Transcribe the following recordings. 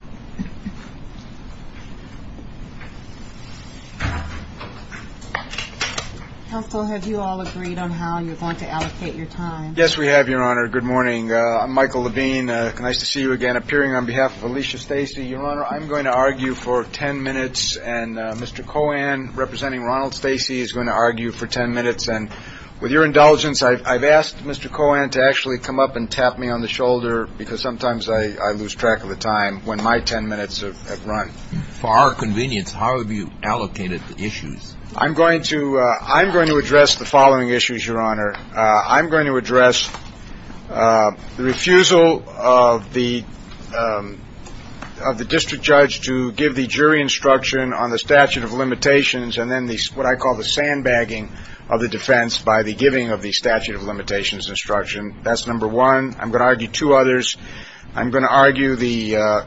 Good morning. I'm Michael Levine. Nice to see you again. Appearing on behalf of Alicia Stacey, Your Honor, I'm going to argue for ten minutes and Mr. Cohen, representing Ronald Stacey, is going to argue for ten minutes. And with your indulgence, I've asked Mr. Cohen to actually come up and tap me on the shoulder because sometimes I lose track of the time when my ten minutes have run. For our convenience, how have you allocated the issues? I'm going to address the following issues, Your Honor. I'm going to address the refusal of the district judge to give the jury instruction on the statute of limitations and then what I call the sandbagging of the defense by the giving of the statute of limitations instruction. That's number one. I'm going to argue two others. I'm going to argue the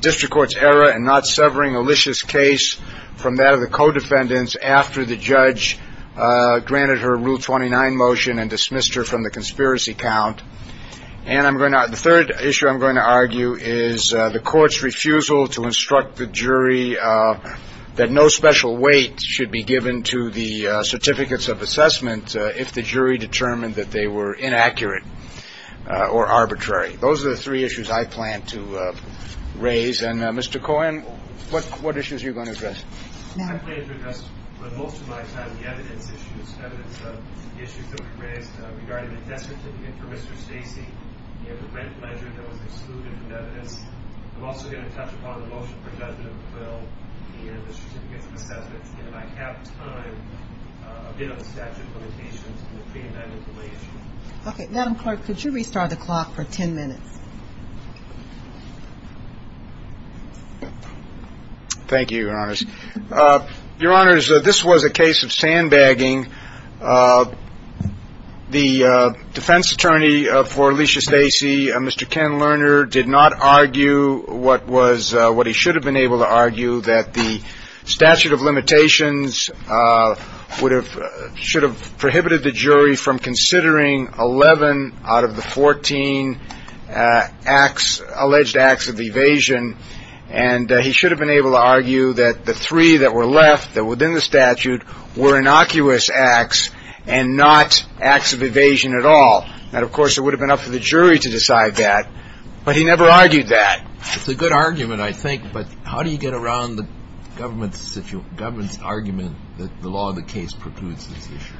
district court's error in not severing Alicia's case from that of the co-defendants after the judge granted her Rule 29 motion and dismissed her from the conspiracy count. And the third issue I'm going to argue is the court's refusal to instruct the jury that no special weight should be given to the certificates of assessment if the jury determined that they were inaccurate or arbitrary. Those are the three issues I plan to raise. And Mr. Cohen, what issues are you going to address? I plan to address, for the most of my time, the evidence issues, evidence of the issues that were raised regarding the test certificate for Mr. Stacey and the rent measure that was excluded from the evidence. I'm also going to touch upon the motion for judgment of McQuill and the certificates of assessment. And if I have time, a bit on the statute of limitations and the freedom to identify issue. Okay. Madam Clerk, could you restart the clock for ten minutes? Thank you, Your Honors. Your Honors, this was a case of sandbagging. The defense attorney for Alicia Stacey, Mr. Ken Lerner, did not argue what was what he should have been able to argue, that the statute of limitations would have should have prohibited the jury from considering 11 out of the 14 as a alleged acts of evasion. And he should have been able to argue that the three that were left within the statute were innocuous acts and not acts of evasion at all. And of course, it would have been up to the jury to decide that. But he never argued that. It's a good argument, I think. But how do you get around the government's argument that the law of the case precludes this issue?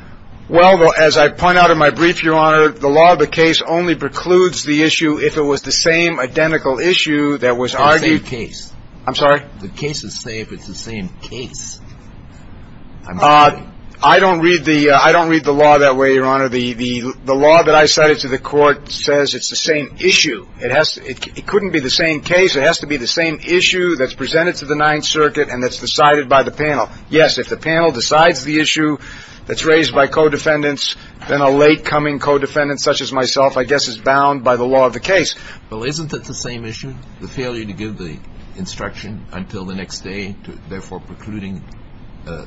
Well, as I point out in my brief, Your Honor, the law of the case only precludes the issue if it was the same identical issue that was argued. It's the same case. I'm sorry? The case is safe. It's the same case. I don't read the law that way, Your Honor. The law that I cited to the court says it's the same issue. It couldn't be the same case. It has to be the same issue that's presented to the Ninth Circuit and that's decided by the panel. Yes, if the panel decides the issue that's raised by co-defendants, then a late-coming co-defendant such as myself, I guess, is bound by the law of the case. Well, isn't it the same issue, the failure to give the instruction until the next day, therefore precluding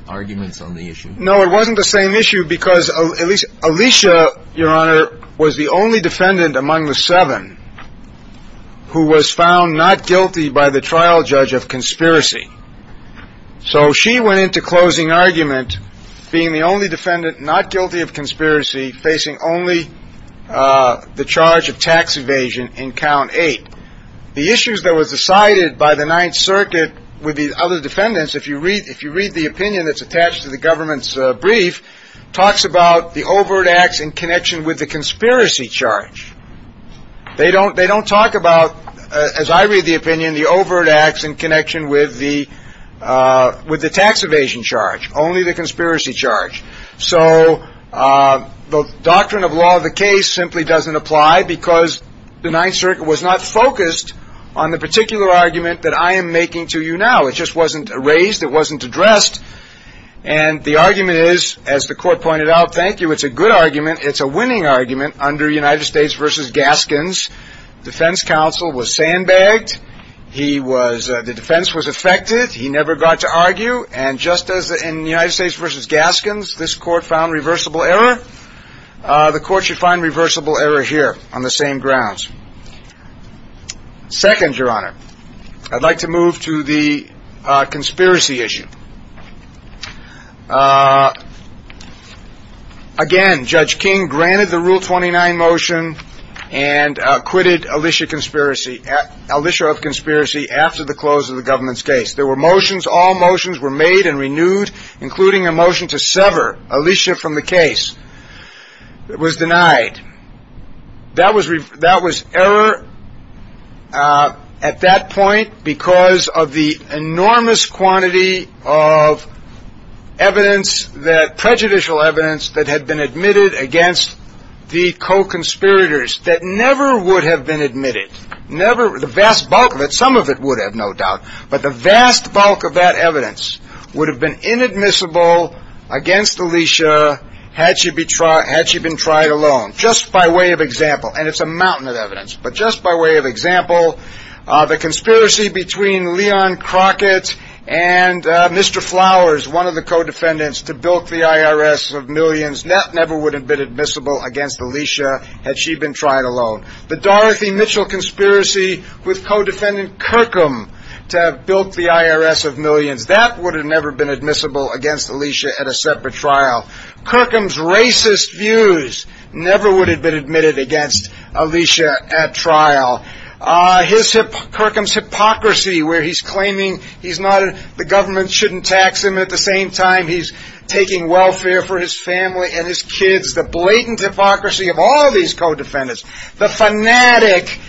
arguments on the issue? No, it wasn't the same issue because Alicia, Your Honor, was the only defendant among the seven who was found not guilty by the trial judge of conspiracy. So she went into closing argument being the only defendant not guilty of conspiracy, facing only the charge of tax evasion in count eight. The issues that was decided by the Ninth Circuit with the other defendants, if you read the opinion that's attached to the government's brief, talks about the overt acts in connection with the conspiracy charge. They don't talk about, as I read the opinion, the overt acts in connection with the tax evasion charge, only the conspiracy charge. So the doctrine of law of the case simply doesn't apply because the Ninth Circuit was not focused on the particular argument that I am making to you now. So it just wasn't raised. It wasn't addressed. And the argument is, as the court pointed out, thank you, it's a good argument. It's a winning argument under United States v. Gaskins. Defense counsel was sandbagged. He was the defense was affected. He never got to argue. And just as in the United States v. Gaskins, this court found reversible error. The court should find reversible error here on the same grounds. Second, Your Honor, I'd like to move to the conspiracy issue. Again, Judge King granted the Rule 29 motion and acquitted Alicia conspiracy. Alicia of conspiracy after the close of the government's case, there were motions. All motions were made and renewed, including a motion to sever Alicia from the case. It was denied. That was that was error at that point because of the enormous quantity of evidence that prejudicial evidence that had been admitted against the co-conspirators that never would have been admitted. Never the vast bulk of it. Some of it would have no doubt. But the vast bulk of that evidence would have been inadmissible against Alicia had she be tried. Had she been tried alone just by way of example. And it's a mountain of evidence. But just by way of example, the conspiracy between Leon Crockett and Mr. Flowers, one of the co-defendants to build the IRS of millions, that never would have been admissible against Alicia had she been tried alone. The Dorothy Mitchell conspiracy with co-defendant Kirkham to have built the IRS of millions, that would have never been admissible against Alicia at a separate trial. Kirkham's racist views never would have been admitted against Alicia at trial. Kirkham's hypocrisy where he's claiming the government shouldn't tax him at the same time he's taking welfare for his family and his kids. The blatant hypocrisy of all these co-defendants. The fanatic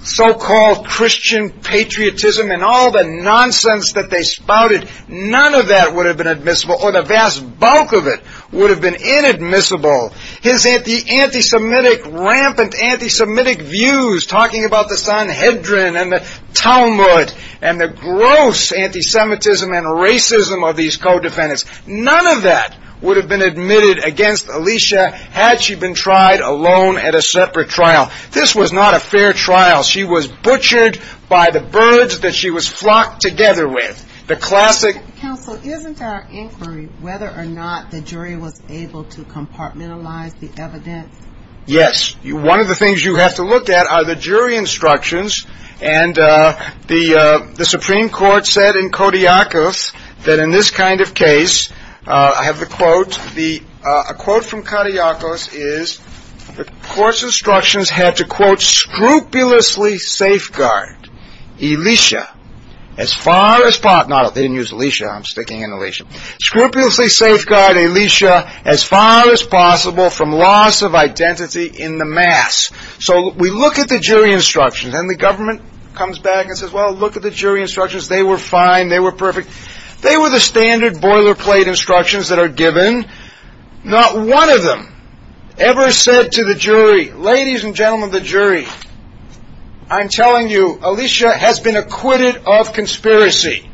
so-called Christian patriotism and all the nonsense that they spouted. None of that would have been admissible or the vast bulk of it would have been inadmissible. His anti-Semitic, rampant anti-Semitic views talking about the Sanhedrin and the Talmud and the gross anti-Semitism and racism of these co-defendants. None of that would have been admitted against Alicia had she been tried alone at a separate trial. This was not a fair trial. She was butchered by the birds that she was flocked together with. Counsel, isn't our inquiry whether or not the jury was able to compartmentalize the evidence? Yes. One of the things you have to look at are the jury instructions. And the Supreme Court said in Kodiakos that in this kind of case, I have the quote. A quote from Kodiakos is the court's instructions had to quote scrupulously safeguard Alicia as far as possible. They didn't use Alicia. I'm sticking in Alicia. Scrupulously safeguard Alicia as far as possible from loss of identity in the mass. So we look at the jury instructions and the government comes back and says, well, look at the jury instructions. They were fine. They were perfect. They were the standard boilerplate instructions that are given. Not one of them ever said to the jury, ladies and gentlemen of the jury, I'm telling you, Alicia has been acquitted of conspiracy.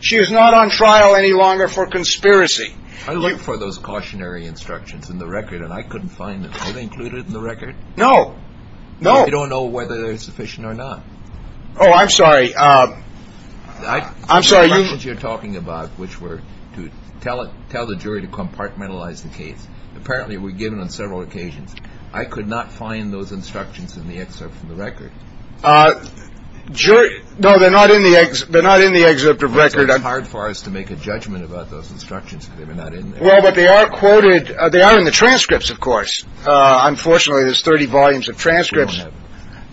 She is not on trial any longer for conspiracy. I looked for those cautionary instructions in the record and I couldn't find them. Are they included in the record? No, no. I don't know whether they're sufficient or not. Oh, I'm sorry. I'm sorry. You're talking about which were to tell it, tell the jury to compartmentalize the case. Apparently we're given on several occasions. I could not find those instructions in the excerpt from the record. Sure. No, they're not in the they're not in the excerpt of record. I'm hard for us to make a judgment about those instructions. Well, but they are quoted. They are in the transcripts, of course. Unfortunately, there's 30 volumes of transcripts,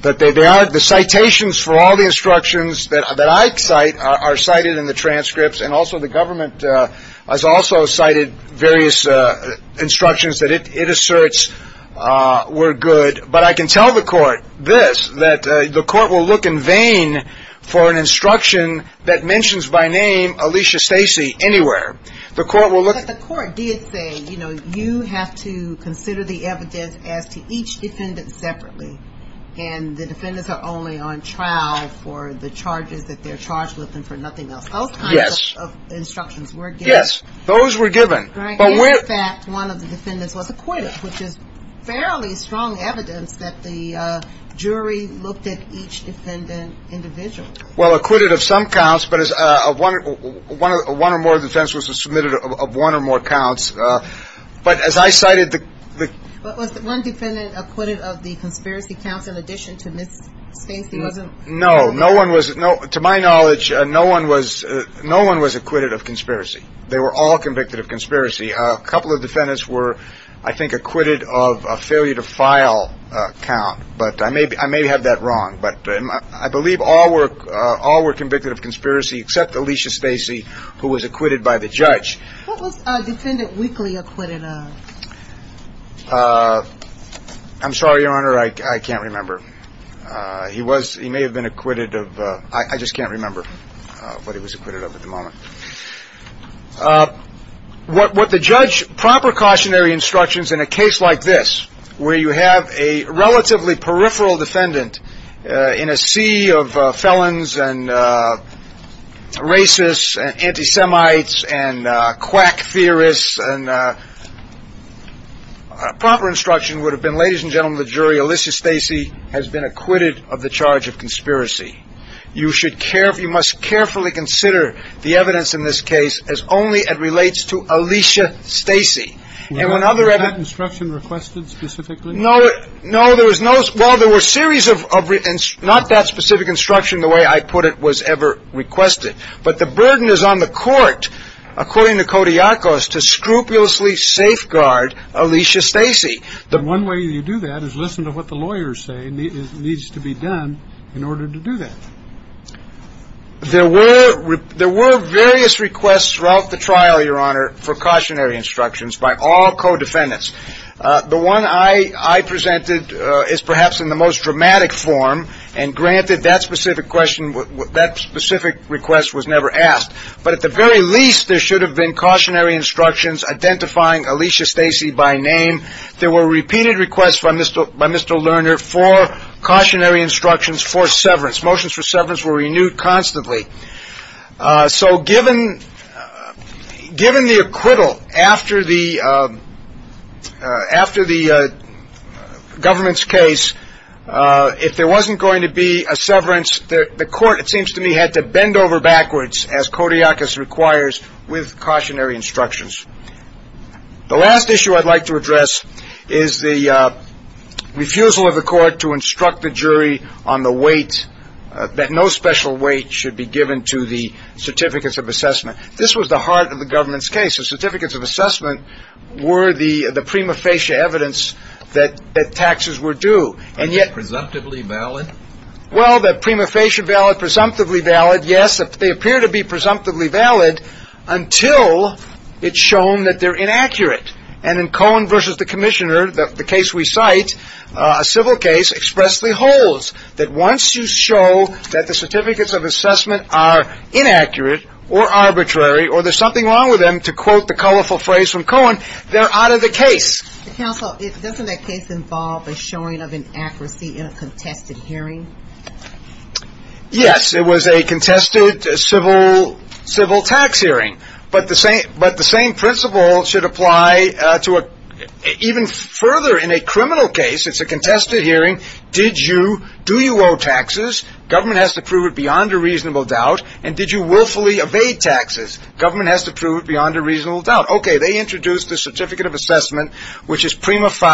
but they are the citations for all the instructions that I cite are cited in the transcripts. And also the government has also cited various instructions that it asserts were good. But I can tell the court this, that the court will look in vain for an instruction that mentions by name Alicia Stacy anywhere. The court will look at the court did say, you know, you have to consider the evidence as to each defendant separately. And the defendants are only on trial for the charges that they're charged with and for nothing else. Oh, yes. Instructions were. Yes. Those were given that one of the defendants was acquitted, which is fairly strong evidence that the jury looked at each defendant individual. Well, acquitted of some counts, but as of one of one or more defense was submitted of one or more counts. But as I cited, the one defendant acquitted of the conspiracy counts, in addition to Miss Stacy wasn't. No, no one was. No. To my knowledge, no one was. No one was acquitted of conspiracy. They were all convicted of conspiracy. A couple of defendants were, I think, acquitted of a failure to file count. But I may be I may have that wrong, but I believe all work. All were convicted of conspiracy except Alicia Stacy, who was acquitted by the judge. Defendant weekly acquitted. I'm sorry, Your Honor. I can't remember. He was he may have been acquitted of. I just can't remember what he was acquitted of at the moment. What the judge proper cautionary instructions in a case like this, where you have a relatively peripheral defendant in a sea of felons and racists and anti-Semites and quack theorists and. Proper instruction would have been, ladies and gentlemen, the jury, Alicia Stacy has been acquitted of the charge of conspiracy. You should care if you must carefully consider the evidence in this case as only it relates to Alicia Stacy. And when other instruction requested specifically, no, no, there was no. Well, there were a series of not that specific instruction the way I put it was ever requested. But the burden is on the court, according to Kodiakos, to scrupulously safeguard Alicia Stacy. The one way you do that is listen to what the lawyers say needs to be done in order to do that. There were there were various requests throughout the trial, Your Honor, for cautionary instructions by all co-defendants. The one I presented is perhaps in the most dramatic form. And granted that specific question, that specific request was never asked. But at the very least, there should have been cautionary instructions identifying Alicia Stacy by name. There were repeated requests by Mr. by Mr. Lerner for cautionary instructions for severance. Motions for severance were renewed constantly. So given given the acquittal after the after the government's case, if there wasn't going to be a severance, the court, it seems to me, had to bend over backwards as Kodiakos requires with cautionary instructions. The last issue I'd like to address is the refusal of the court to instruct the jury on the weight, that no special weight should be given to the certificates of assessment. This was the heart of the government's case. The certificates of assessment were the prima facie evidence that taxes were due. And yet. Presumptively valid? Well, the prima facie valid, presumptively valid, yes. They appear to be presumptively valid until it's shown that they're inaccurate. And in Cohen versus the commissioner, the case we cite, a civil case, expressly holds that once you show that the certificates of assessment are inaccurate or arbitrary or there's something wrong with them, to quote the colorful phrase from Cohen, they're out of the case. Counsel, doesn't that case involve a showing of inaccuracy in a contested hearing? Yes. It was a contested civil tax hearing. But the same principle should apply even further in a criminal case. It's a contested hearing. Do you owe taxes? Government has to prove it beyond a reasonable doubt. And did you willfully evade taxes? Government has to prove it beyond a reasonable doubt. Okay. They introduced the certificate of assessment, which is prima facie.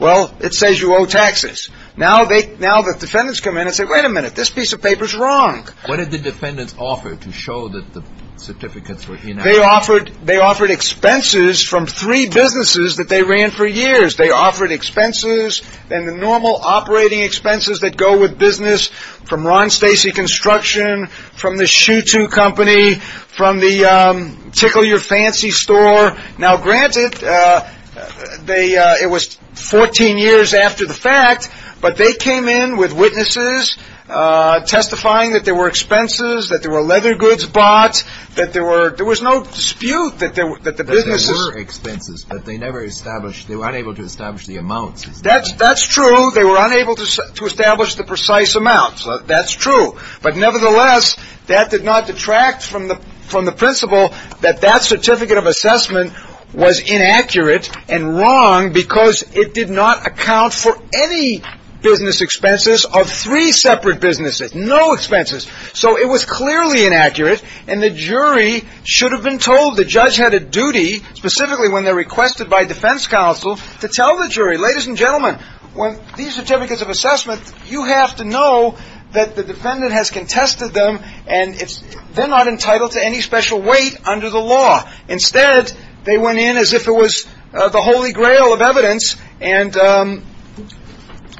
Well, it says you owe taxes. Now the defendants come in and say, wait a minute. This piece of paper is wrong. What did the defendants offer to show that the certificates were inaccurate? They offered expenses from three businesses that they ran for years. They offered expenses and the normal operating expenses that go with business from Ron Stacy Construction, from the Shu Tu Company, from the Tickle Your Fancy store. Now, granted, it was 14 years after the fact, but they came in with witnesses testifying that there were expenses, that there were leather goods bought, that there was no dispute that the businesses. There were expenses, but they never established. They were unable to establish the amounts. That's true. They were unable to establish the precise amount. That's true. But nevertheless, that did not detract from the principle that that certificate of assessment was inaccurate and wrong because it did not account for any business expenses of three separate businesses. No expenses. So it was clearly inaccurate, and the jury should have been told. The judge had a duty, specifically when they're requested by defense counsel, to tell the jury, ladies and gentlemen, when these certificates of assessment, you have to know that the defendant has contested them, and they're not entitled to any special weight under the law. Instead, they went in as if it was the Holy Grail of evidence. And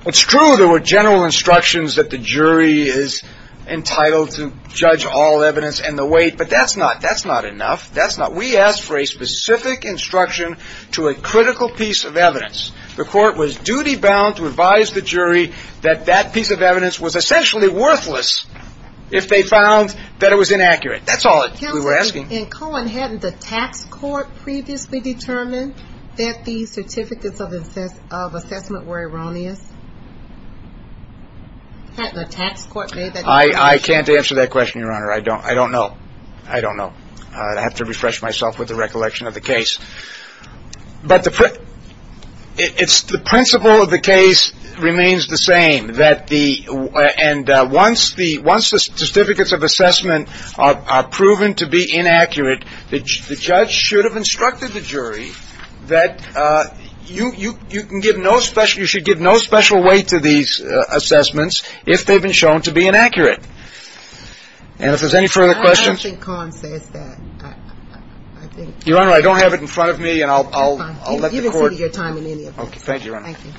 it's true there were general instructions that the jury is entitled to judge all evidence and the weight, but that's not enough. We asked for a specific instruction to a critical piece of evidence. The court was duty-bound to advise the jury that that piece of evidence was essentially worthless if they found that it was inaccurate. That's all we were asking. And Colin, hadn't the tax court previously determined that the certificates of assessment were erroneous? Hadn't the tax court made that determination? I can't answer that question, Your Honor. I don't know. I don't know. I'd have to refresh myself with the recollection of the case. But the principle of the case remains the same, that the – and once the certificates of assessment are proven to be inaccurate, the judge should have instructed the jury that you can give no special – you should give no special weight to these assessments if they've been shown to be inaccurate. And if there's any further questions? I don't think Colin says that. Your Honor, I don't have it in front of me, and I'll let the court – Fine. Give us some of your time in any of this. Thank you, Your Honor. Thank you.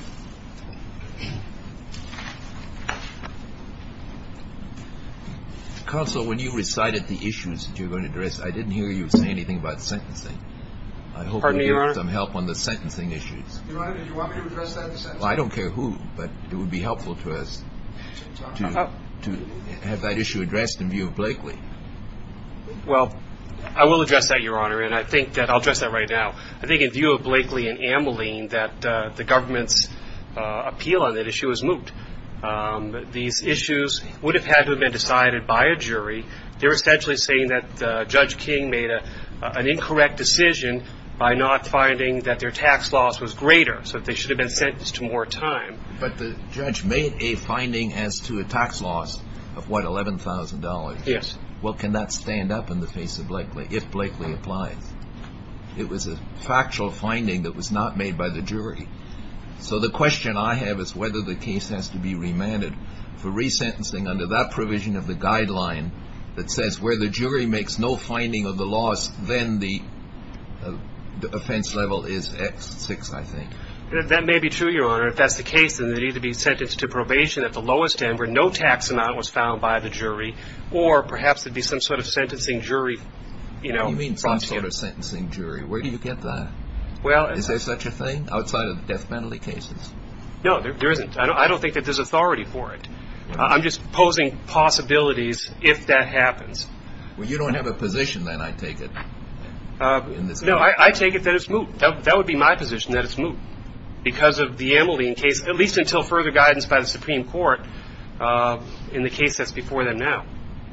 Counsel, when you recited the issues that you were going to address, I didn't hear you say anything about sentencing. Pardon me, Your Honor? I hope you can give us some help on the sentencing issues. Your Honor, did you want me to address that in the sentencing? Well, I don't care who, but it would be helpful to us to have that issue addressed in view of Blakely. Well, I will address that, Your Honor, and I think that – I'll address that right now. I think in view of Blakely and Ameline that the government's appeal on that issue is moot. These issues would have had to have been decided by a jury. They're essentially saying that Judge King made an incorrect decision by not finding that their tax loss was greater, so that they should have been sentenced to more time. But the judge made a finding as to a tax loss of, what, $11,000? Yes. Well, can that stand up in the face of Blakely, if Blakely applies? It was a factual finding that was not made by the jury. So the question I have is whether the case has to be remanded for resentencing under that provision of the guideline that says where the jury makes no finding of the loss, then the offense level is at six, I think. That may be true, Your Honor. If that's the case, then they need to be sentenced to probation at the lowest end where no tax amount was found by the jury, or perhaps there'd be some sort of sentencing jury brought to you. You mean some sort of sentencing jury. Where do you get that? Is there such a thing outside of death penalty cases? No, there isn't. I don't think that there's authority for it. I'm just posing possibilities if that happens. Well, you don't have a position then, I take it, in this case. No, I take it that it's moot. That would be my position, that it's moot because of the Amelian case, at least until further guidance by the Supreme Court in the case that's before them now.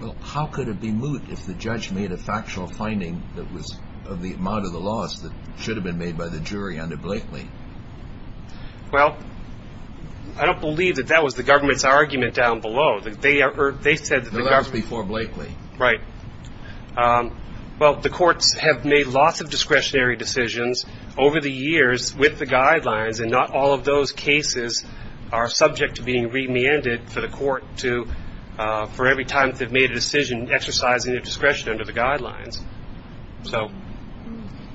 Well, how could it be moot if the judge made a factual finding that was of the amount of the loss that should have been made by the jury under Blakely? Well, I don't believe that that was the government's argument down below. They said that the government. No, that was before Blakely. Right. Well, the courts have made lots of discretionary decisions over the years with the guidelines, and not all of those cases are subject to being remanded for the court to, for every time that they've made a decision exercising their discretion under the guidelines. So,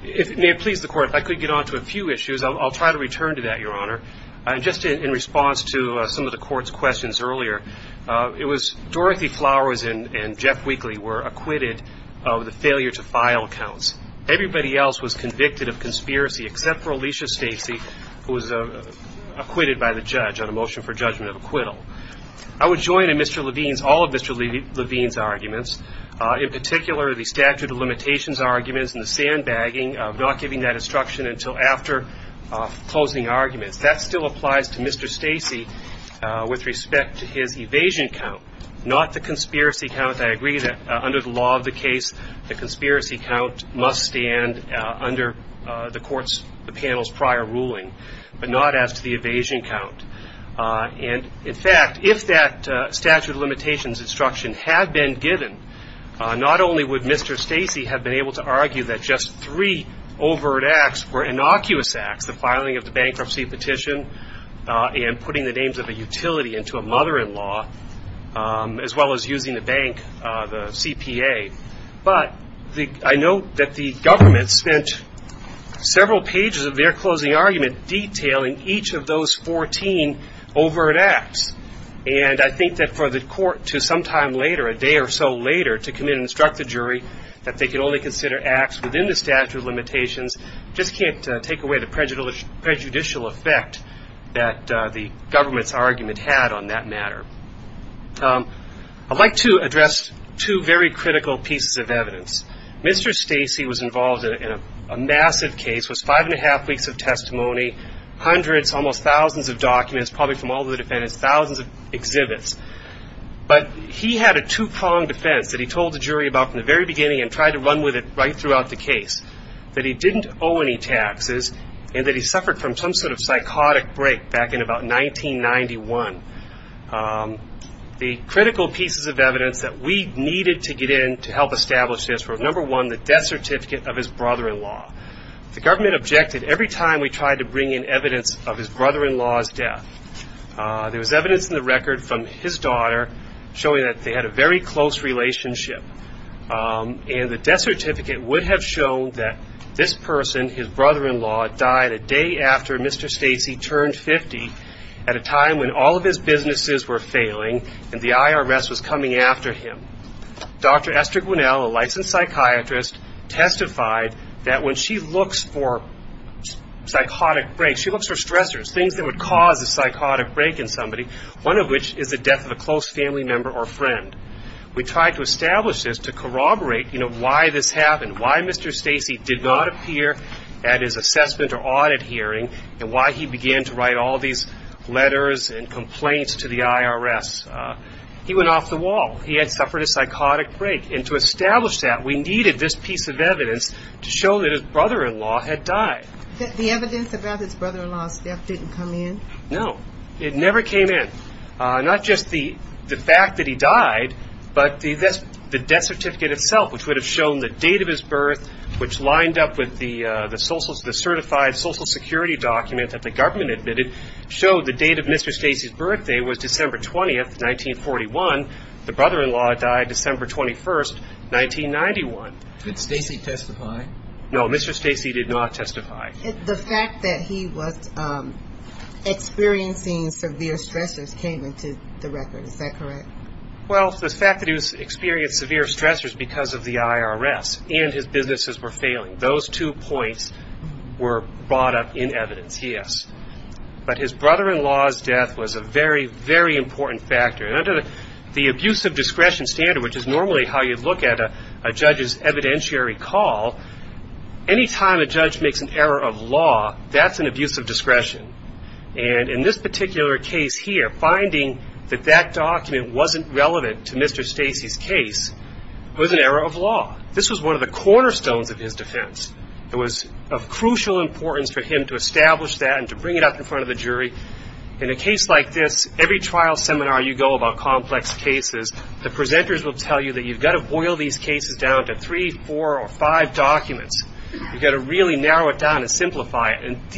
if it may please the Court, if I could get on to a few issues, I'll try to return to that, Your Honor. Just in response to some of the Court's questions earlier, Dorothy Flowers and Jeff Wheatley were acquitted of the failure to file counts. Everybody else was convicted of conspiracy except for Alicia Stacy, who was acquitted by the judge on a motion for judgment of acquittal. I would join in Mr. Levine's, all of Mr. Levine's arguments, in particular the statute of limitations arguments and the sandbagging, not giving that instruction until after closing arguments. That still applies to Mr. Stacy with respect to his evasion count, not the conspiracy count. I agree that under the law of the case, the conspiracy count must stand under the panel's prior ruling, but not as to the evasion count. And, in fact, if that statute of limitations instruction had been given, not only would Mr. Stacy have been able to argue that just three overt acts were innocuous acts, the filing of the bankruptcy petition and putting the names of a utility into a mother-in-law, as well as using the bank, the CPA. But I note that the government spent several pages of their closing argument detailing each of those 14 overt acts. And I think that for the court to sometime later, a day or so later, to come in and instruct the jury that they can only consider acts within the statute of limitations just can't take away the prejudicial effect that the government's argument had on that matter. I'd like to address two very critical pieces of evidence. Mr. Stacy was involved in a massive case, was five and a half weeks of testimony, hundreds, almost thousands of documents, probably from all the defendants, thousands of exhibits. But he had a two-pronged defense that he told the jury about from the very beginning and tried to run with it right throughout the case, that he didn't owe any taxes and that he suffered from some sort of psychotic break back in about 1991. The critical pieces of evidence that we needed to get in to help establish this were, number one, the death certificate of his brother-in-law. The government objected every time we tried to bring in evidence of his brother-in-law's death. There was evidence in the record from his daughter showing that they had a very close relationship. And the death certificate would have shown that this person, his brother-in-law, died a day after Mr. Stacy turned 50 at a time when all of his businesses were failing and the IRS was coming after him. Dr. Esther Gwinnell, a licensed psychiatrist, testified that when she looks for psychotic breaks, she looks for stressors, things that would cause a psychotic break in somebody, one of which is the death of a close family member or friend. We tried to establish this to corroborate why this happened, why Mr. Stacy did not appear at his assessment or audit hearing and why he began to write all these letters and complaints to the IRS. He went off the wall. He had suffered a psychotic break. And to establish that, we needed this piece of evidence to show that his brother-in-law had died. The evidence about his brother-in-law's death didn't come in? No, it never came in. Not just the fact that he died, but the death certificate itself, which would have shown the date of his birth, which lined up with the certified Social Security document that the government admitted, showed the date of Mr. Stacy's birthday was December 20, 1941. The brother-in-law died December 21, 1991. Did Stacy testify? No, Mr. Stacy did not testify. The fact that he was experiencing severe stressors came into the record, is that correct? Well, the fact that he was experiencing severe stressors because of the IRS and his businesses were failing, those two points were brought up in evidence, yes. But his brother-in-law's death was a very, very important factor. And under the abuse of discretion standard, which is normally how you look at a judge's evidentiary call, any time a judge makes an error of law, that's an abuse of discretion. And in this particular case here, finding that that document wasn't relevant to Mr. Stacy's case was an error of law. This was one of the cornerstones of his defense. It was of crucial importance for him to establish that and to bring it up in front of the jury. In a case like this, every trial seminar you go about complex cases, the presenters will tell you that you've got to boil these cases down to three, four, or five documents. You've got to really narrow it down and simplify it. And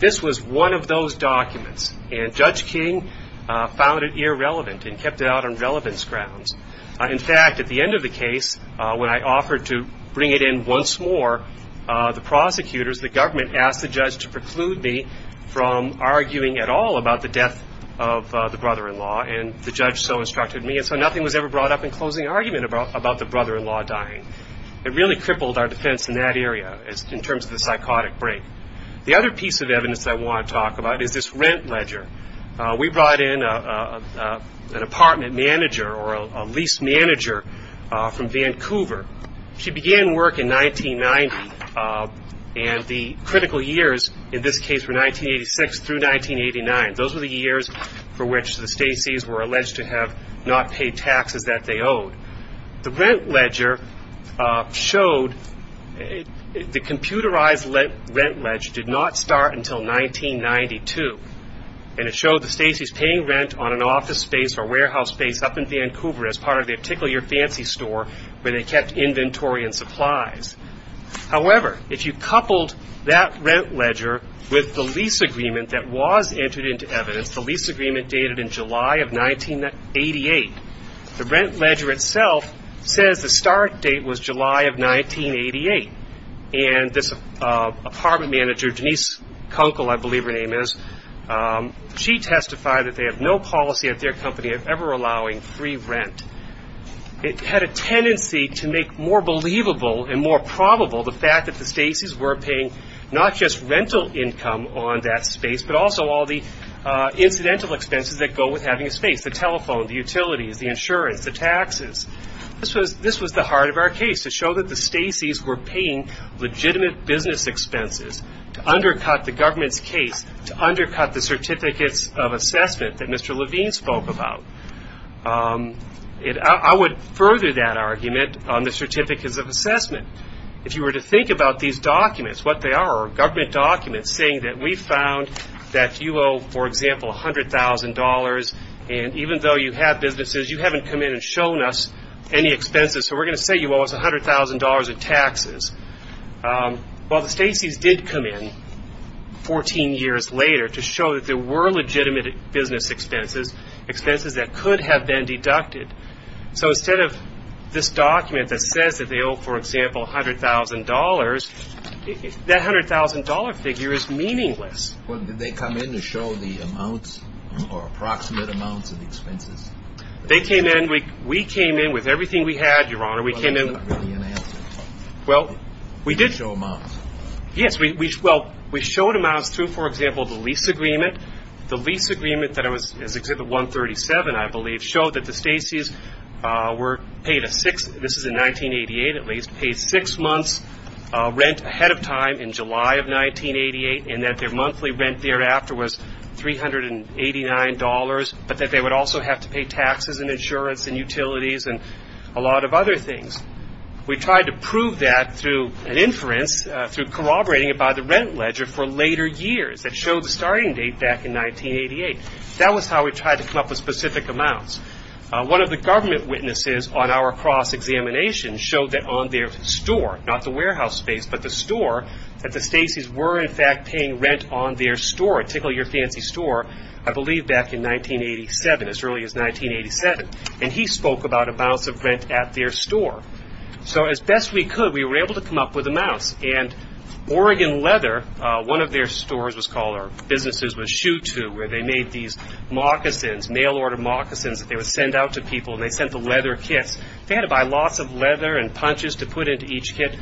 this was one of those documents. And Judge King found it irrelevant and kept it out on relevance grounds. In fact, at the end of the case, when I offered to bring it in once more, the prosecutors, the government asked the judge to preclude me from arguing at all about the death of the brother-in-law. And the judge so instructed me. And so nothing was ever brought up in closing argument about the brother-in-law dying. It really crippled our defense in that area in terms of the psychotic break. The other piece of evidence I want to talk about is this rent ledger. We brought in an apartment manager or a lease manager from Vancouver. She began work in 1990, and the critical years in this case were 1986 through 1989. Those were the years for which the Stacys were alleged to have not paid taxes that they owed. The rent ledger showed the computerized rent ledger did not start until 1992. And it showed the Stacys paying rent on an office space or warehouse space up in Vancouver as part of the Tickle Your Fancy store where they kept inventory and supplies. However, if you coupled that rent ledger with the lease agreement that was entered into evidence, the lease agreement dated in July of 1988, the rent ledger itself says the start date was July of 1988. And this apartment manager, Denise Kunkel, I believe her name is, she testified that they have no policy at their company of ever allowing free rent. It had a tendency to make more believable and more probable the fact that the Stacys were paying not just rental income on that space but also all the incidental expenses that go with having a space, the telephone, the utilities, the insurance, the taxes. This was the heart of our case to show that the Stacys were paying legitimate business expenses to undercut the government's case, to undercut the certificates of assessment that Mr. Levine spoke about. I would further that argument on the certificates of assessment. If you were to think about these documents, what they are, are government documents saying that we found that you owe, for example, $100,000, and even though you have businesses, you haven't come in and shown us any expenses, so we're going to say you owe us $100,000 in taxes. Well, the Stacys did come in 14 years later to show that there were legitimate business expenses, expenses that could have been deducted. So instead of this document that says that they owe, for example, $100,000, that $100,000 figure is meaningless. Well, did they come in to show the amounts or approximate amounts of the expenses? They came in. We came in with everything we had, Your Honor. Well, that's not really an answer. Well, we did show amounts. Yes, well, we showed amounts through, for example, the lease agreement. The lease agreement that is Exhibit 137, I believe, showed that the Stacys were paid a six, this is in 1988 at least, paid six months' rent ahead of time in July of 1988, and that their monthly rent thereafter was $389, but that they would also have to pay taxes and insurance and utilities and a lot of other things. We tried to prove that through an inference, through corroborating it by the rent ledger for later years that showed the starting date back in 1988. That was how we tried to come up with specific amounts. One of the government witnesses on our cross-examination showed that on their store, not the warehouse space, but the store, that the Stacys were, in fact, paying rent on their store, at Tickle Your Fancy Store, I believe back in 1987, as early as 1987. And he spoke about amounts of rent at their store. So as best we could, we were able to come up with amounts. And Oregon Leather, one of their stores was called, or businesses was SHU2, where they made these moccasins, mail-order moccasins that they would send out to people, and they sent the leather kits. They had to buy lots of leather and punches to put into each kit.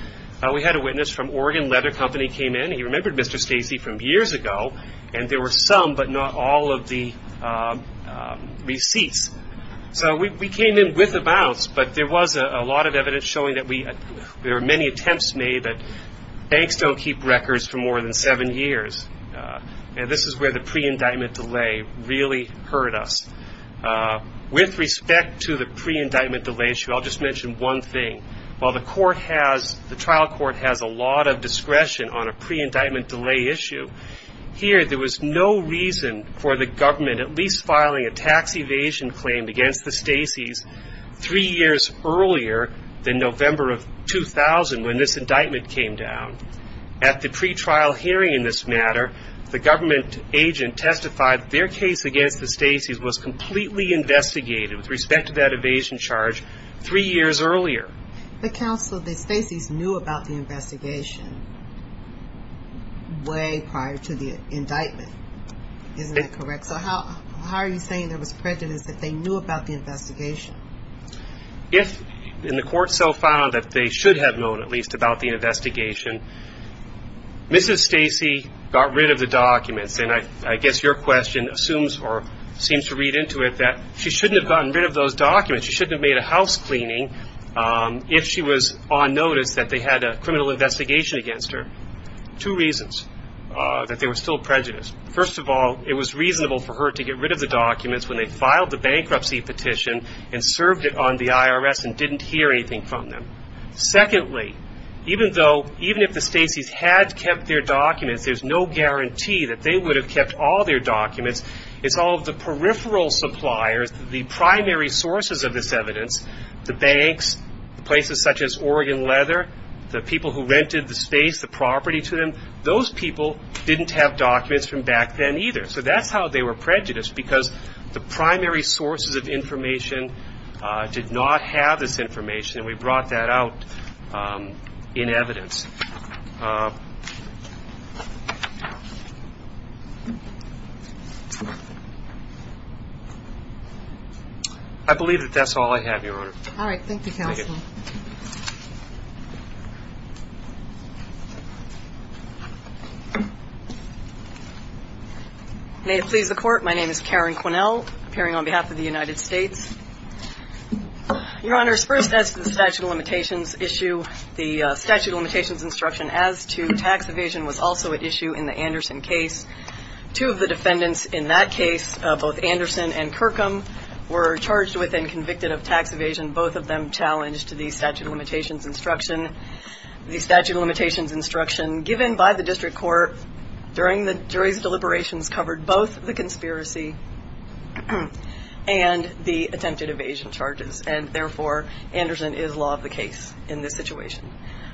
We had a witness from Oregon Leather Company came in. He remembered Mr. Stacey from years ago, and there were some but not all of the receipts. So we came in with amounts, but there was a lot of evidence showing that there were many attempts made that banks don't keep records for more than seven years. And this is where the pre-indictment delay really hurt us. With respect to the pre-indictment delay issue, I'll just mention one thing. While the trial court has a lot of discretion on a pre-indictment delay issue, here there was no reason for the government at least filing a tax evasion claim against the Stacey's three years earlier than November of 2000 when this indictment came down. At the pre-trial hearing in this matter, the government agent testified their case against the Stacey's was completely investigated with respect to that evasion charge three years earlier. The counsel of the Stacey's knew about the investigation way prior to the indictment. Isn't that correct? So how are you saying there was prejudice that they knew about the investigation? If the court so found that they should have known at least about the investigation, Mrs. Stacey got rid of the documents, and I guess your question assumes or seems to read into it that she shouldn't have gotten rid of those documents. She shouldn't have made a house cleaning if she was on notice that they had a criminal investigation against her. Two reasons that there was still prejudice. First of all, it was reasonable for her to get rid of the documents when they filed the bankruptcy petition and served it on the IRS and didn't hear anything from them. Secondly, even if the Stacey's had kept their documents, there's no guarantee that they would have kept all their documents. It's all of the peripheral suppliers, the primary sources of this evidence, the banks, places such as Oregon Leather, the people who rented the space, the property to them, those people didn't have documents from back then either. So that's how they were prejudiced, because the primary sources of information did not have this information, and we brought that out in evidence. I believe that that's all I have, Your Honor. All right. Thank you, Counsel. May it please the Court, my name is Karen Quinnell, appearing on behalf of the United States. Your Honor, first as to the statute of limitations issue, the statute of limitations instruction as to tax evasion was also at issue in the Anderson case. Two of the defendants in that case, both Anderson and Kirkham, were charged with and convicted of tax evasion, both of them challenged to the statute of limitations instruction. The statute of limitations instruction given by the district court during the jury's deliberations covered both the conspiracy and the attempted evasion charges, and therefore Anderson is law of the case in this situation.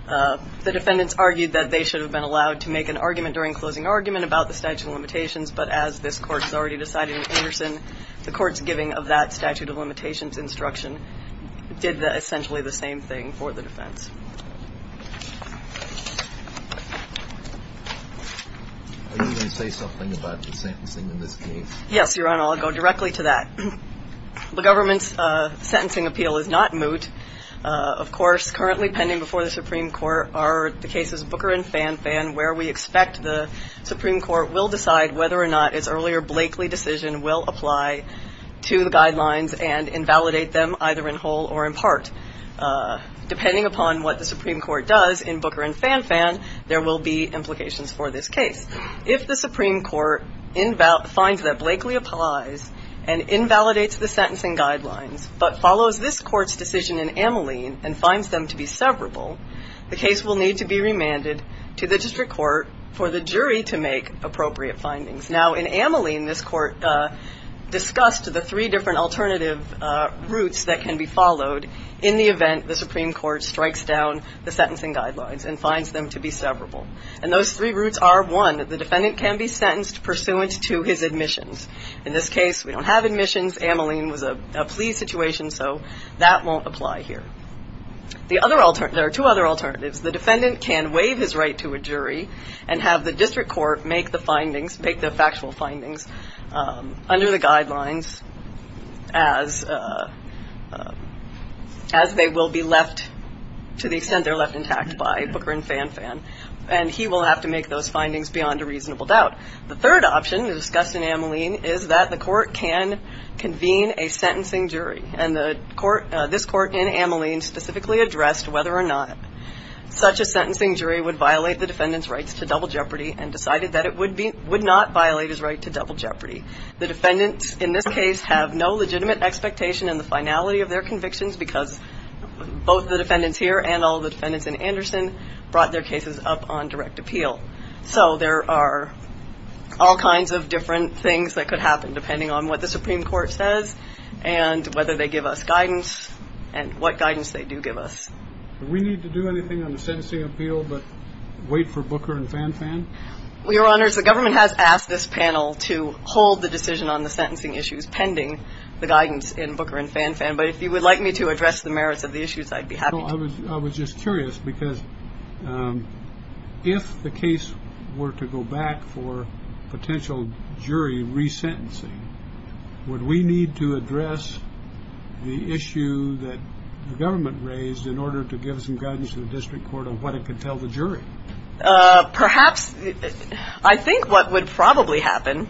The defendants argued that they should have been allowed to make an argument during closing argument about the statute of limitations, but as this Court has already decided in Anderson, the Court's giving of that statute of limitations instruction did essentially the same thing for the defense. Are you going to say something about the sentencing in this case? Yes, Your Honor, I'll go directly to that. The government's sentencing appeal is not moot. Of course, currently pending before the Supreme Court are the cases Booker and Fan Fan, where we expect the Supreme Court will decide whether or not its earlier Blakely decision will apply to the guidelines and invalidate them either in whole or in part. Depending upon what the Supreme Court does in Booker and Fan Fan, there will be implications for this case. If the Supreme Court finds that Blakely applies and invalidates the sentencing guidelines but follows this Court's decision in Ameline and finds them to be severable, the case will need to be remanded to the district court for the jury to make appropriate findings. Now, in Ameline, this Court discussed the three different alternative routes that can be followed in the event the Supreme Court strikes down the sentencing guidelines and finds them to be severable. And those three routes are, one, the defendant can be sentenced pursuant to his admissions. In this case, we don't have admissions. Ameline was a plea situation, so that won't apply here. There are two other alternatives. The defendant can waive his right to a jury and have the district court make the findings, make the factual findings under the guidelines as they will be left to the extent they're left intact by Booker and Fan Fan. And he will have to make those findings beyond a reasonable doubt. The third option discussed in Ameline is that the court can convene a sentencing jury. And this court in Ameline specifically addressed whether or not such a sentencing jury would violate the defendant's rights to double jeopardy and decided that it would not violate his right to double jeopardy. The defendants in this case have no legitimate expectation in the finality of their convictions because both the defendants here and all the defendants in Anderson brought their cases up on direct appeal. So there are all kinds of different things that could happen depending on what the Supreme Court says and whether they give us guidance and what guidance they do give us. Do we need to do anything on the sentencing appeal but wait for Booker and Fan Fan? Your Honors, the government has asked this panel to hold the decision on the sentencing issues pending the guidance in Booker and Fan Fan. But if you would like me to address the merits of the issues, I'd be happy to. I was just curious because if the case were to go back for potential jury resentencing, would we need to address the issue that the government raised in order to give some guidance to the district court on what it could tell the jury? Perhaps. I think what would probably happen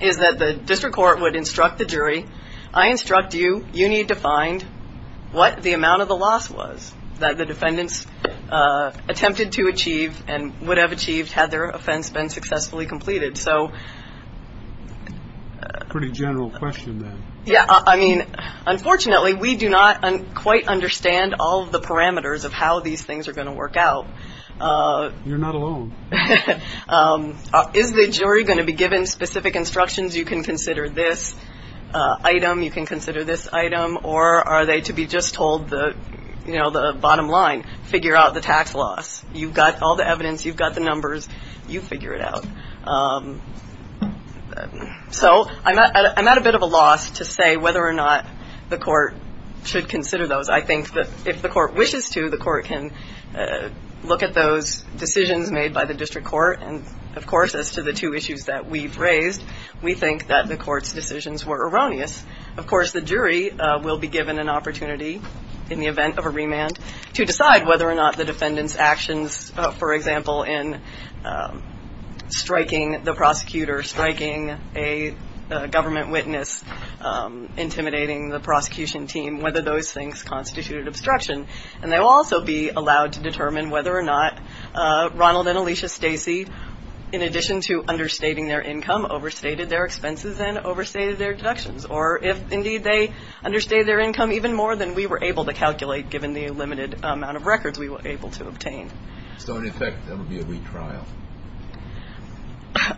is that the district court would instruct the jury, I instruct you, you need to find what the amount of the loss was that the defendants attempted to achieve and would have achieved had their offense been successfully completed. So. Pretty general question. Yeah. I mean, unfortunately, we do not quite understand all of the parameters of how these things are going to work out. You're not alone. Is the jury going to be given specific instructions? You can consider this item. You can consider this item. Or are they to be just told the bottom line, figure out the tax loss. You've got all the evidence. You've got the numbers. You figure it out. So I'm at a bit of a loss to say whether or not the court should consider those. I think that if the court wishes to, the court can look at those decisions made by the district court. And of course, as to the two issues that we've raised, we think that the court's decisions were erroneous. Of course, the jury will be given an opportunity in the event of a remand to decide whether or not the defendant's actions, for example, in striking the prosecutor, striking a government witness, intimidating the prosecution team, whether those things constituted obstruction. And they will also be allowed to determine whether or not Ronald and Alicia Stacey, in addition to understating their income, overstated their expenses and overstated their deductions. Or if, indeed, they understated their income even more than we were able to calculate, given the limited amount of records we were able to obtain. So, in effect, that would be a retrial?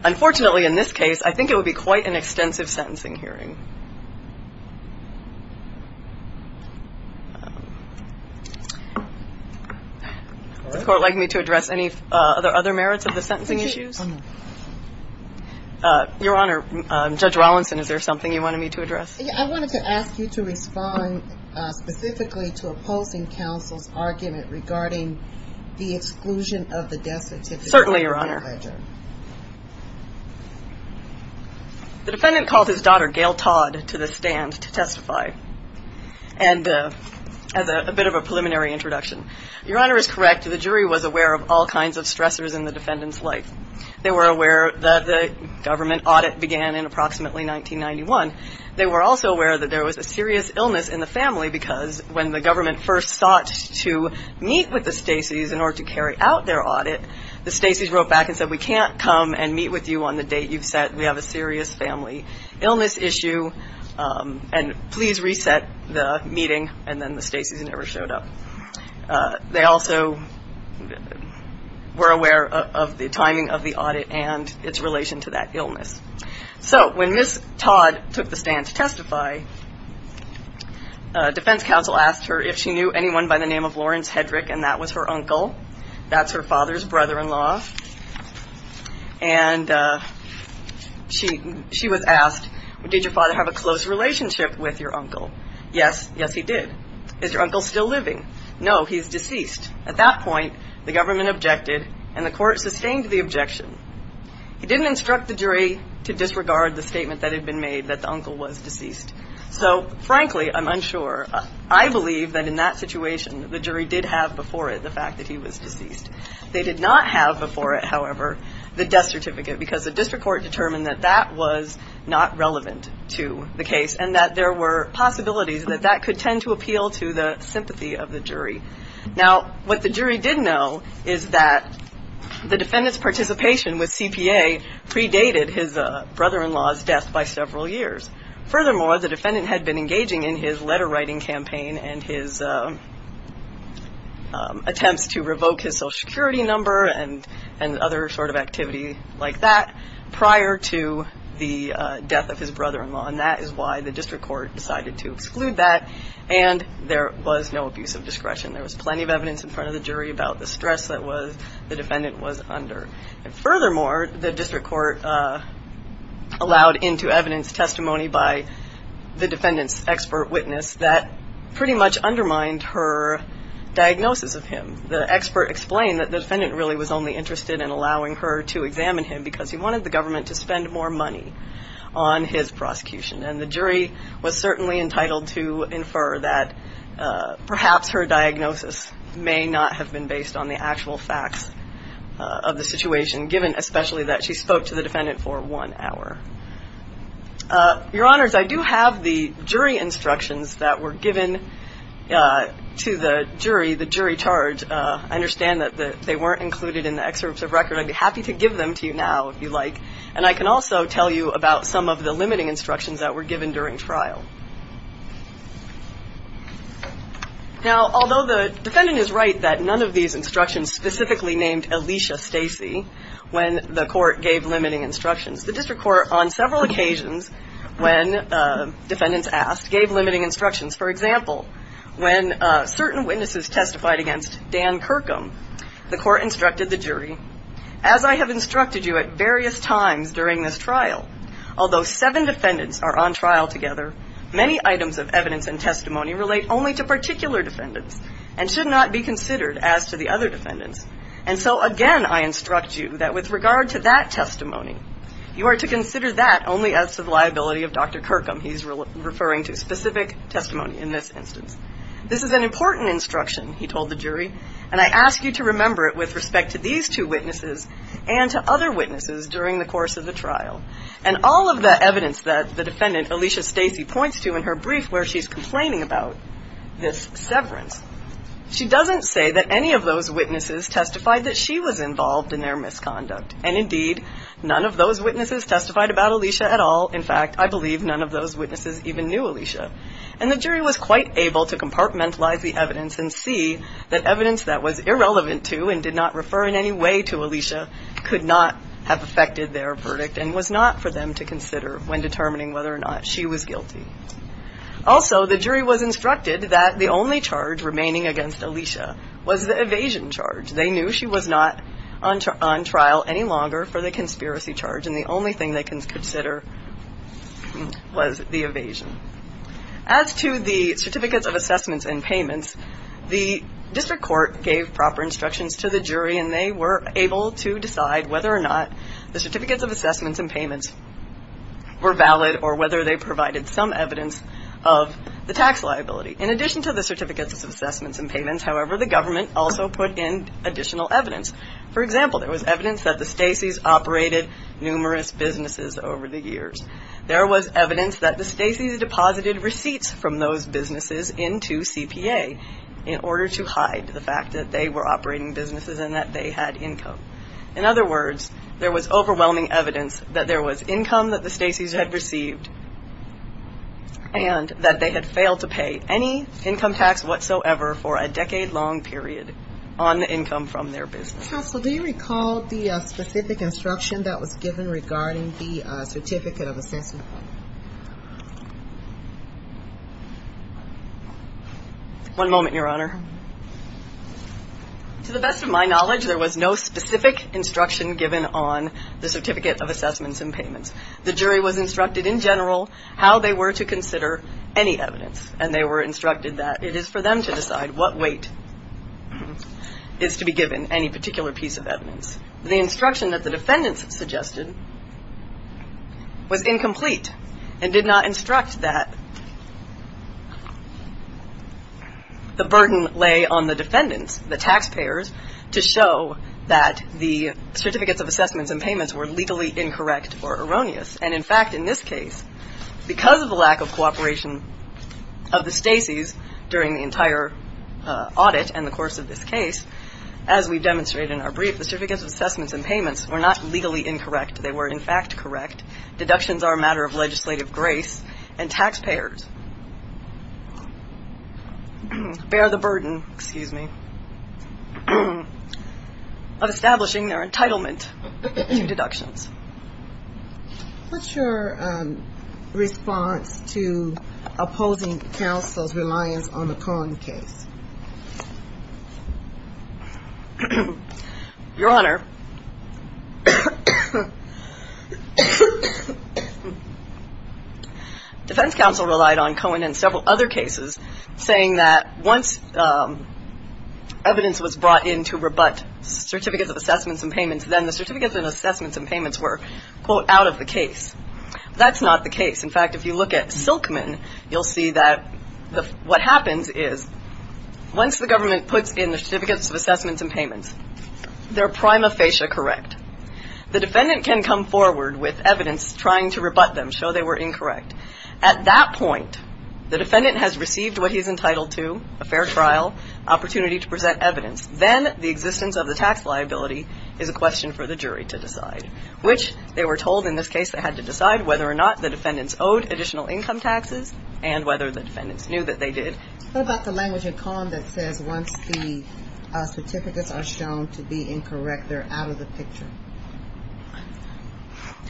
Unfortunately, in this case, I think it would be quite an extensive sentencing hearing. Does the court like me to address any other merits of the sentencing issues? Your Honor, Judge Wallinson, is there something you wanted me to address? I wanted to ask you to respond specifically to opposing counsel's argument regarding the exclusion of the death certificate. Certainly, Your Honor. The defendant called his daughter, Gail Todd, to the stand to testify. And as a bit of a preliminary introduction, Your Honor is correct. The jury was aware of all kinds of stressors in the defendant's life. They were aware that the government audit began in approximately 1991. They were also aware that there was a serious illness in the family because when the government first sought to meet with the Stacey's in order to carry out their audit, the Stacey's wrote back and said, we can't come and meet with you on the date you've set. We have a serious family illness issue. And please reset the meeting. And then the Stacey's never showed up. They also were aware of the timing of the audit and its relation to that illness. So, when Ms. Todd took the stand to testify, defense counsel asked her if she knew anyone by the name of Lawrence Hedrick, and that was her uncle. That's her father's brother-in-law. And she was asked, did your father have a close relationship with your uncle? Yes, yes, he did. Is your uncle still living? No, he's deceased. At that point, the government objected, and the court sustained the objection. He didn't instruct the jury to disregard the statement that had been made that the uncle was deceased. So, frankly, I'm unsure. I believe that in that situation, the jury did have before it the fact that he was deceased. They did not have before it, however, the death certificate, because the district court determined that that was not relevant to the case and that there were possibilities that that could tend to appeal to the sympathy of the jury. Now, what the jury did know is that the defendant's participation with CPA predated his brother-in-law's death by several years. Furthermore, the defendant had been engaging in his letter-writing campaign and his attempts to revoke his Social Security number and other sort of activity like that prior to the death of his brother-in-law, and that is why the district court decided to exclude that, and there was no abuse of discretion. There was plenty of evidence in front of the jury about the stress that the defendant was under. And furthermore, the district court allowed into evidence testimony by the defendant's expert witness that pretty much undermined her diagnosis of him. The expert explained that the defendant really was only interested in allowing her to examine him because he wanted the government to spend more money on his prosecution, and the jury was certainly entitled to infer that perhaps her diagnosis may not have been based on the actual facts of the situation, given especially that she spoke to the defendant for one hour. Your Honors, I do have the jury instructions that were given to the jury, the jury charge. I understand that they weren't included in the excerpt of record. I'd be happy to give them to you now if you like, and I can also tell you about some of the limiting instructions that were given during trial. Now, although the defendant is right that none of these instructions specifically named Alicia Stacey when the court gave limiting instructions, the district court, on several occasions, when defendants asked, gave limiting instructions. For example, when certain witnesses testified against Dan Kirkham, the court instructed the jury, as I have instructed you at various times during this trial, although seven defendants are on trial together, many items of evidence and testimony relate only to particular defendants and should not be considered as to the other defendants. And so, again, I instruct you that with regard to that testimony, you are to consider that only as to the liability of Dr. Kirkham. He's referring to specific testimony in this instance. This is an important instruction, he told the jury, and I ask you to remember it with respect to these two witnesses and to other witnesses during the course of the trial. And all of the evidence that the defendant, Alicia Stacey, points to in her brief where she's complaining about this severance, she doesn't say that any of those witnesses testified that she was involved in their misconduct. And, indeed, none of those witnesses testified about Alicia at all. In fact, I believe none of those witnesses even knew Alicia. And the jury was quite able to compartmentalize the evidence and see that evidence that was irrelevant to and did not refer in any way to Alicia could not have affected their verdict and was not for them to consider when determining whether or not she was guilty. Also, the jury was instructed that the only charge remaining against Alicia was the evasion charge. They knew she was not on trial any longer for the conspiracy charge, and the only thing they could consider was the evasion. As to the Certificates of Assessments and Payments, the district court gave proper instructions to the jury, and they were able to decide whether or not the Certificates of Assessments and Payments were valid or whether they provided some evidence of the tax liability. In addition to the Certificates of Assessments and Payments, however, the government also put in additional evidence. For example, there was evidence that the Stacey's operated numerous businesses over the years. There was evidence that the Stacey's deposited receipts from those businesses into CPA in order to hide the fact that they were operating businesses and that they had income. In other words, there was overwhelming evidence that there was income that the Stacey's had received and that they had failed to pay any income tax whatsoever for a decade-long period on the income from their business. Counsel, do you recall the specific instruction that was given regarding the Certificate of Assessments? One moment, Your Honor. To the best of my knowledge, there was no specific instruction given on the Certificate of Assessments and Payments. The jury was instructed in general how they were to consider any evidence, and they were instructed that it is for them to decide what weight is to be given any particular piece of evidence. The instruction that the defendants suggested was incomplete and did not instruct that the burden lay on the defendants, the taxpayers, to show that the Certificates of Assessments and Payments were legally incorrect or erroneous. And, in fact, in this case, because of the lack of cooperation of the Stacey's during the entire audit and the course of this case, as we demonstrated in our brief, the Certificates of Assessments and Payments were not legally incorrect. They were, in fact, correct. Deductions are a matter of legislative grace, and taxpayers bear the burden, excuse me, of establishing their entitlement to deductions. What's your response to opposing counsel's reliance on the Conn case? Your Honor, Defense Counsel relied on Cohen and several other cases, saying that once evidence was brought in to rebut Certificates of Assessments and Payments, then the Certificates of Assessments and Payments were, quote, out of the case. That's not the case. In fact, if you look at Silkman, you'll see that what happens is once the government puts in the Certificates of Assessments and Payments, they're prima facie correct. The defendant can come forward with evidence trying to rebut them, show they were incorrect. At that point, the defendant has received what he's entitled to, a fair trial, opportunity to present evidence. Then the existence of the tax liability is a question for the jury to decide, which they were told in this case they had to decide whether or not the defendants owed additional income taxes and whether the defendants knew that they did. What about the language in Conn that says once the Certificates are shown to be incorrect, they're out of the picture?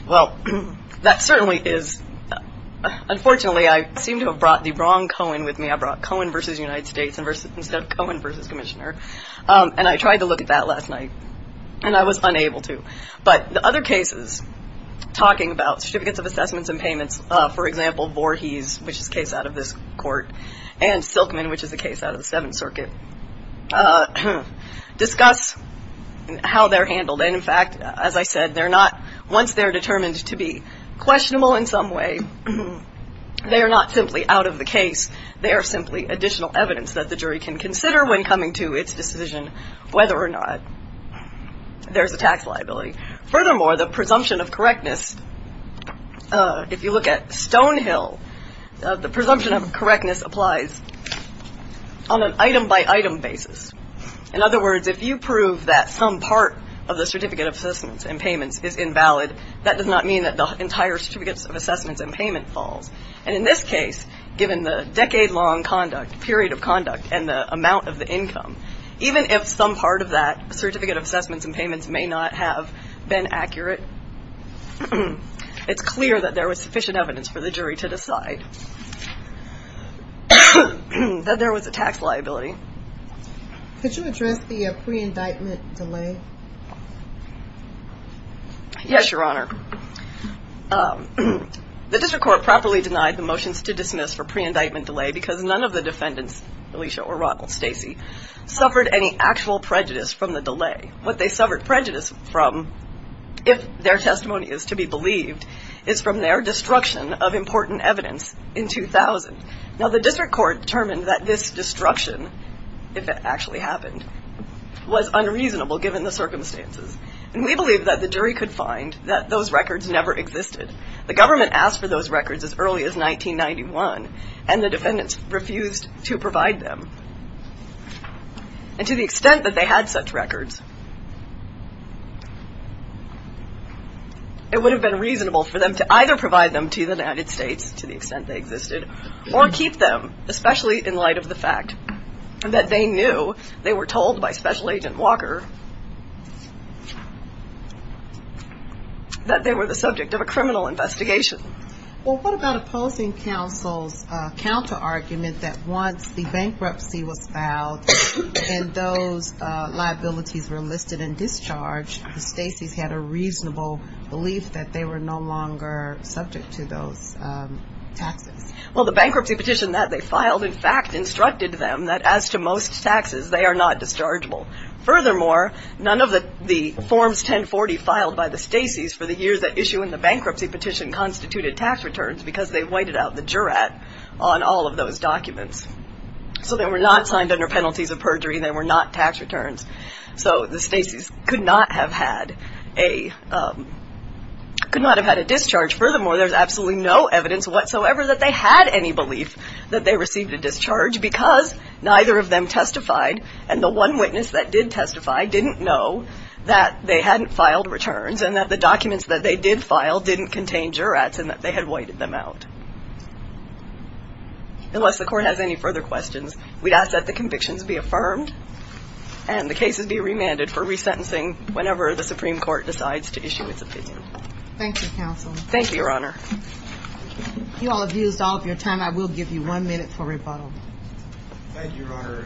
Well, that certainly is. Unfortunately, I seem to have brought the wrong Cohen with me. I brought Cohen versus United States instead of Cohen versus Commissioner. And I tried to look at that last night, and I was unable to. But the other cases, talking about Certificates of Assessments and Payments, for example, Voorhees, which is a case out of this court, and Silkman, which is a case out of the Seventh Circuit, discuss how they're handled. And, in fact, as I said, they're not, once they're determined to be questionable in some way, they are not simply out of the case. They are simply additional evidence that the jury can consider when coming to its decision whether or not there's a tax liability. Furthermore, the presumption of correctness, if you look at Stonehill, the presumption of correctness applies on an item-by-item basis. In other words, if you prove that some part of the Certificate of Assessments and Payments is invalid, that does not mean that the entire Certificates of Assessments and Payments falls. And in this case, given the decade-long conduct, period of conduct, and the amount of the income, even if some part of that Certificate of Assessments and Payments may not have been accurate, it's clear that there was sufficient evidence for the jury to decide that there was a tax liability. Could you address the pre-indictment delay? Yes, Your Honor. The District Court properly denied the motions to dismiss for pre-indictment delay because none of the defendants, Alicia or Ronald, Stacy, suffered any actual prejudice from the delay. What they suffered prejudice from, if their testimony is to be believed, is from their destruction of important evidence in 2000. Now, the District Court determined that this destruction, if it actually happened, was unreasonable given the circumstances. And we believe that the jury could find that those records never existed. The government asked for those records as early as 1991, and the defendants refused to provide them. And to the extent that they had such records, it would have been reasonable for them to either provide them to the United States, to the extent they existed, or keep them, especially in light of the fact that they knew, they were told by Special Agent Walker that they were the subject of a criminal investigation. Well, what about opposing counsel's counter-argument that once the bankruptcy was filed and those liabilities were listed and discharged, the Stacys had a reasonable belief that they were no longer subject to those taxes? Well, the bankruptcy petition that they filed, in fact, instructed them that as to most taxes, they are not dischargeable. Furthermore, none of the Forms 1040 filed by the Stacys for the years that issue in the bankruptcy petition constituted tax returns because they whited out the jurat on all of those documents. So they were not signed under penalties of perjury and they were not tax returns. So the Stacys could not have had a discharge. Furthermore, there's absolutely no evidence whatsoever that they had any belief that they received a discharge because neither of them testified and the one witness that did testify didn't know that they hadn't filed returns and that the documents that they did file didn't contain jurats and that they had whited them out. Unless the Court has any further questions, we'd ask that the convictions be affirmed and the cases be remanded for resentencing whenever the Supreme Court decides to issue its opinion. Thank you, Counsel. Thank you, Your Honor. You all have used all of your time. I will give you one minute for rebuttal. Thank you, Your Honor.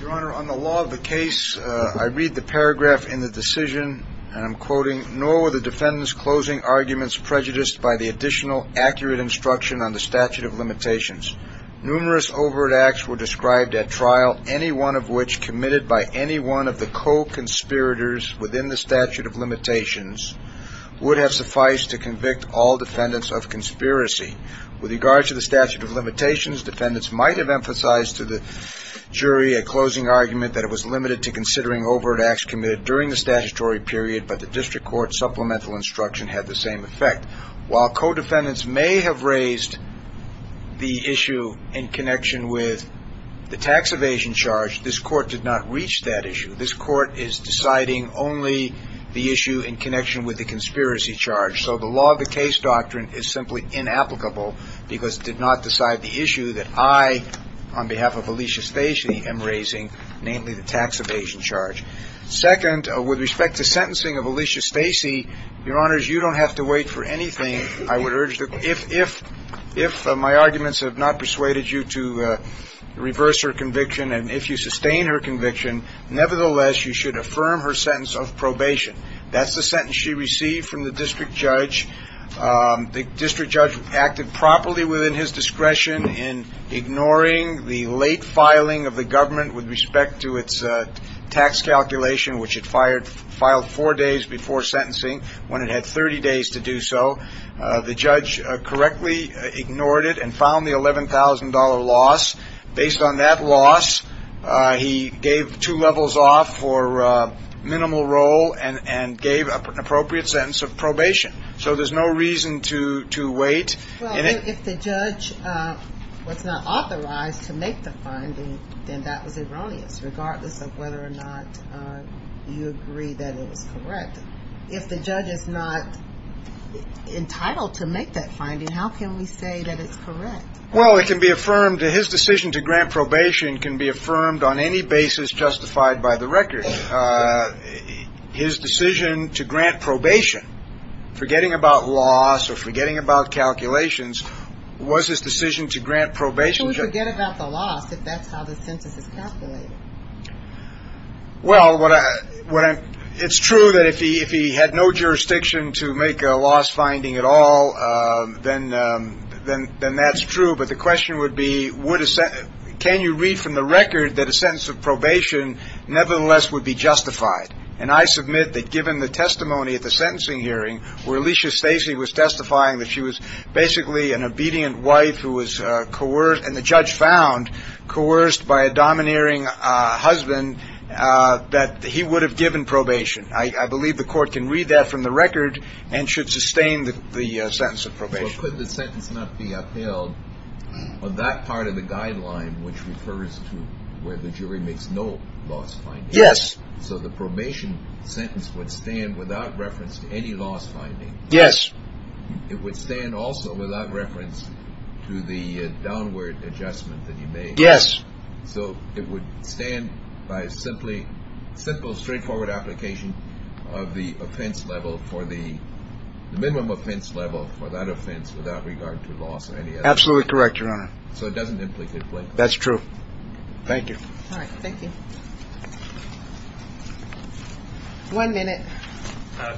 Your Honor, on the law of the case, I read the paragraph in the decision, and I'm quoting, nor were the defendants' closing arguments prejudiced by the additional accurate instruction on the statute of limitations. Numerous overt acts were described at trial, any one of which committed by any one of the co-conspirators within the statute of limitations would have sufficed to convict all defendants of conspiracy. With regard to the statute of limitations, defendants might have emphasized to the jury a closing argument that it was limited to considering overt acts committed during the statutory period, but the district court supplemental instruction had the same effect. While co-defendants may have raised the issue in connection with the tax evasion charge, this Court did not reach that issue. This Court is deciding only the issue in connection with the conspiracy charge. So the law of the case doctrine is simply inapplicable because it did not decide the issue that I, on behalf of Alicia Stacey, am raising, namely the tax evasion charge. Second, with respect to sentencing of Alicia Stacey, Your Honors, you don't have to wait for anything. I would urge that if my arguments have not persuaded you to reverse her conviction and if you sustain her conviction, nevertheless you should affirm her sentence of probation. That's the sentence she received from the district judge. The district judge acted properly within his discretion in ignoring the late filing of the government with respect to its tax calculation, which it filed four days before sentencing when it had 30 days to do so. The judge correctly ignored it and found the $11,000 loss. Based on that loss, he gave two levels off for minimal role and gave an appropriate sentence of probation. So there's no reason to wait. Well, if the judge was not authorized to make the finding, then that was erroneous, regardless of whether or not you agree that it was correct. If the judge is not entitled to make that finding, how can we say that it's correct? Well, it can be affirmed that his decision to grant probation can be affirmed on any basis justified by the record. His decision to grant probation, forgetting about loss or forgetting about calculations, was his decision to grant probation. He wouldn't forget about the loss if that's how the sentence is calculated. Well, it's true that if he had no jurisdiction to make a loss finding at all, then that's true. But the question would be, can you read from the record that a sentence of probation nevertheless would be justified? And I submit that given the testimony at the sentencing hearing where Alicia Stacy was testifying that she was basically an obedient wife who was coerced, and the judge found, coerced by a domineering husband, that he would have given probation. I believe the court can read that from the record and should sustain the sentence of probation. Could the sentence not be upheld on that part of the guideline which refers to where the jury makes no loss finding? Yes. So the probation sentence would stand without reference to any loss finding? Yes. It would stand also without reference to the downward adjustment that he made? Yes. So it would stand by simply, simple, straightforward application of the offense level for the minimum offense level for that offense without regard to loss or any other? Absolutely correct, Your Honor. So it doesn't implicate blame? That's true. Thank you. All right, thank you. One minute.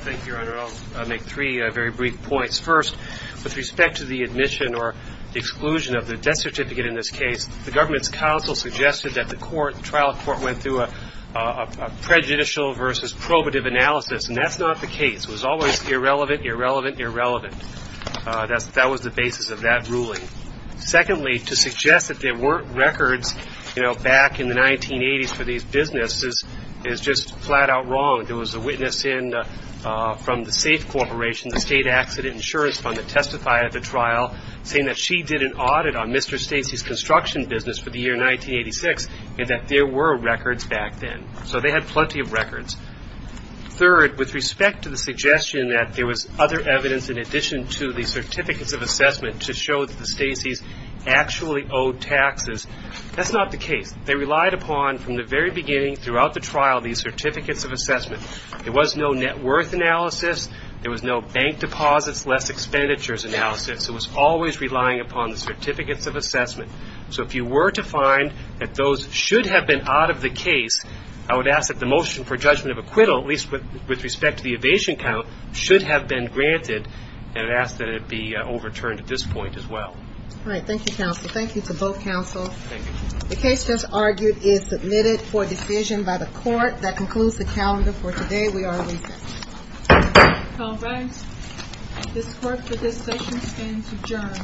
Thank you, Your Honor. I'll make three very brief points. First, with respect to the admission or exclusion of the death certificate in this case, the government's counsel suggested that the trial court went through a prejudicial versus probative analysis, and that's not the case. It was always irrelevant, irrelevant, irrelevant. That was the basis of that ruling. Secondly, to suggest that there weren't records, you know, back in the 1980s for these businesses is just flat out wrong. There was a witness in from the SAFE Corporation, the State Accident Insurance Fund, that testified at the trial, saying that she did an audit on Mr. Stacey's construction business for the year 1986 and that there were records back then. So they had plenty of records. Third, with respect to the suggestion that there was other evidence in addition to the certificates of assessment to show that the Stacey's actually owed taxes, that's not the case. They relied upon, from the very beginning throughout the trial, these certificates of assessment. There was no net worth analysis. There was no bank deposits, less expenditures analysis. It was always relying upon the certificates of assessment. So if you were to find that those should have been out of the case, I would ask that the motion for judgment of acquittal, at least with respect to the evasion count, should have been granted, and I'd ask that it be overturned at this point as well. All right. Thank you, counsel. Thank you to both counsels. Thank you, counsel. The case just argued is submitted for decision by the court. That concludes the calendar for today. We are recessed. All rise. This court for this session stands adjourned.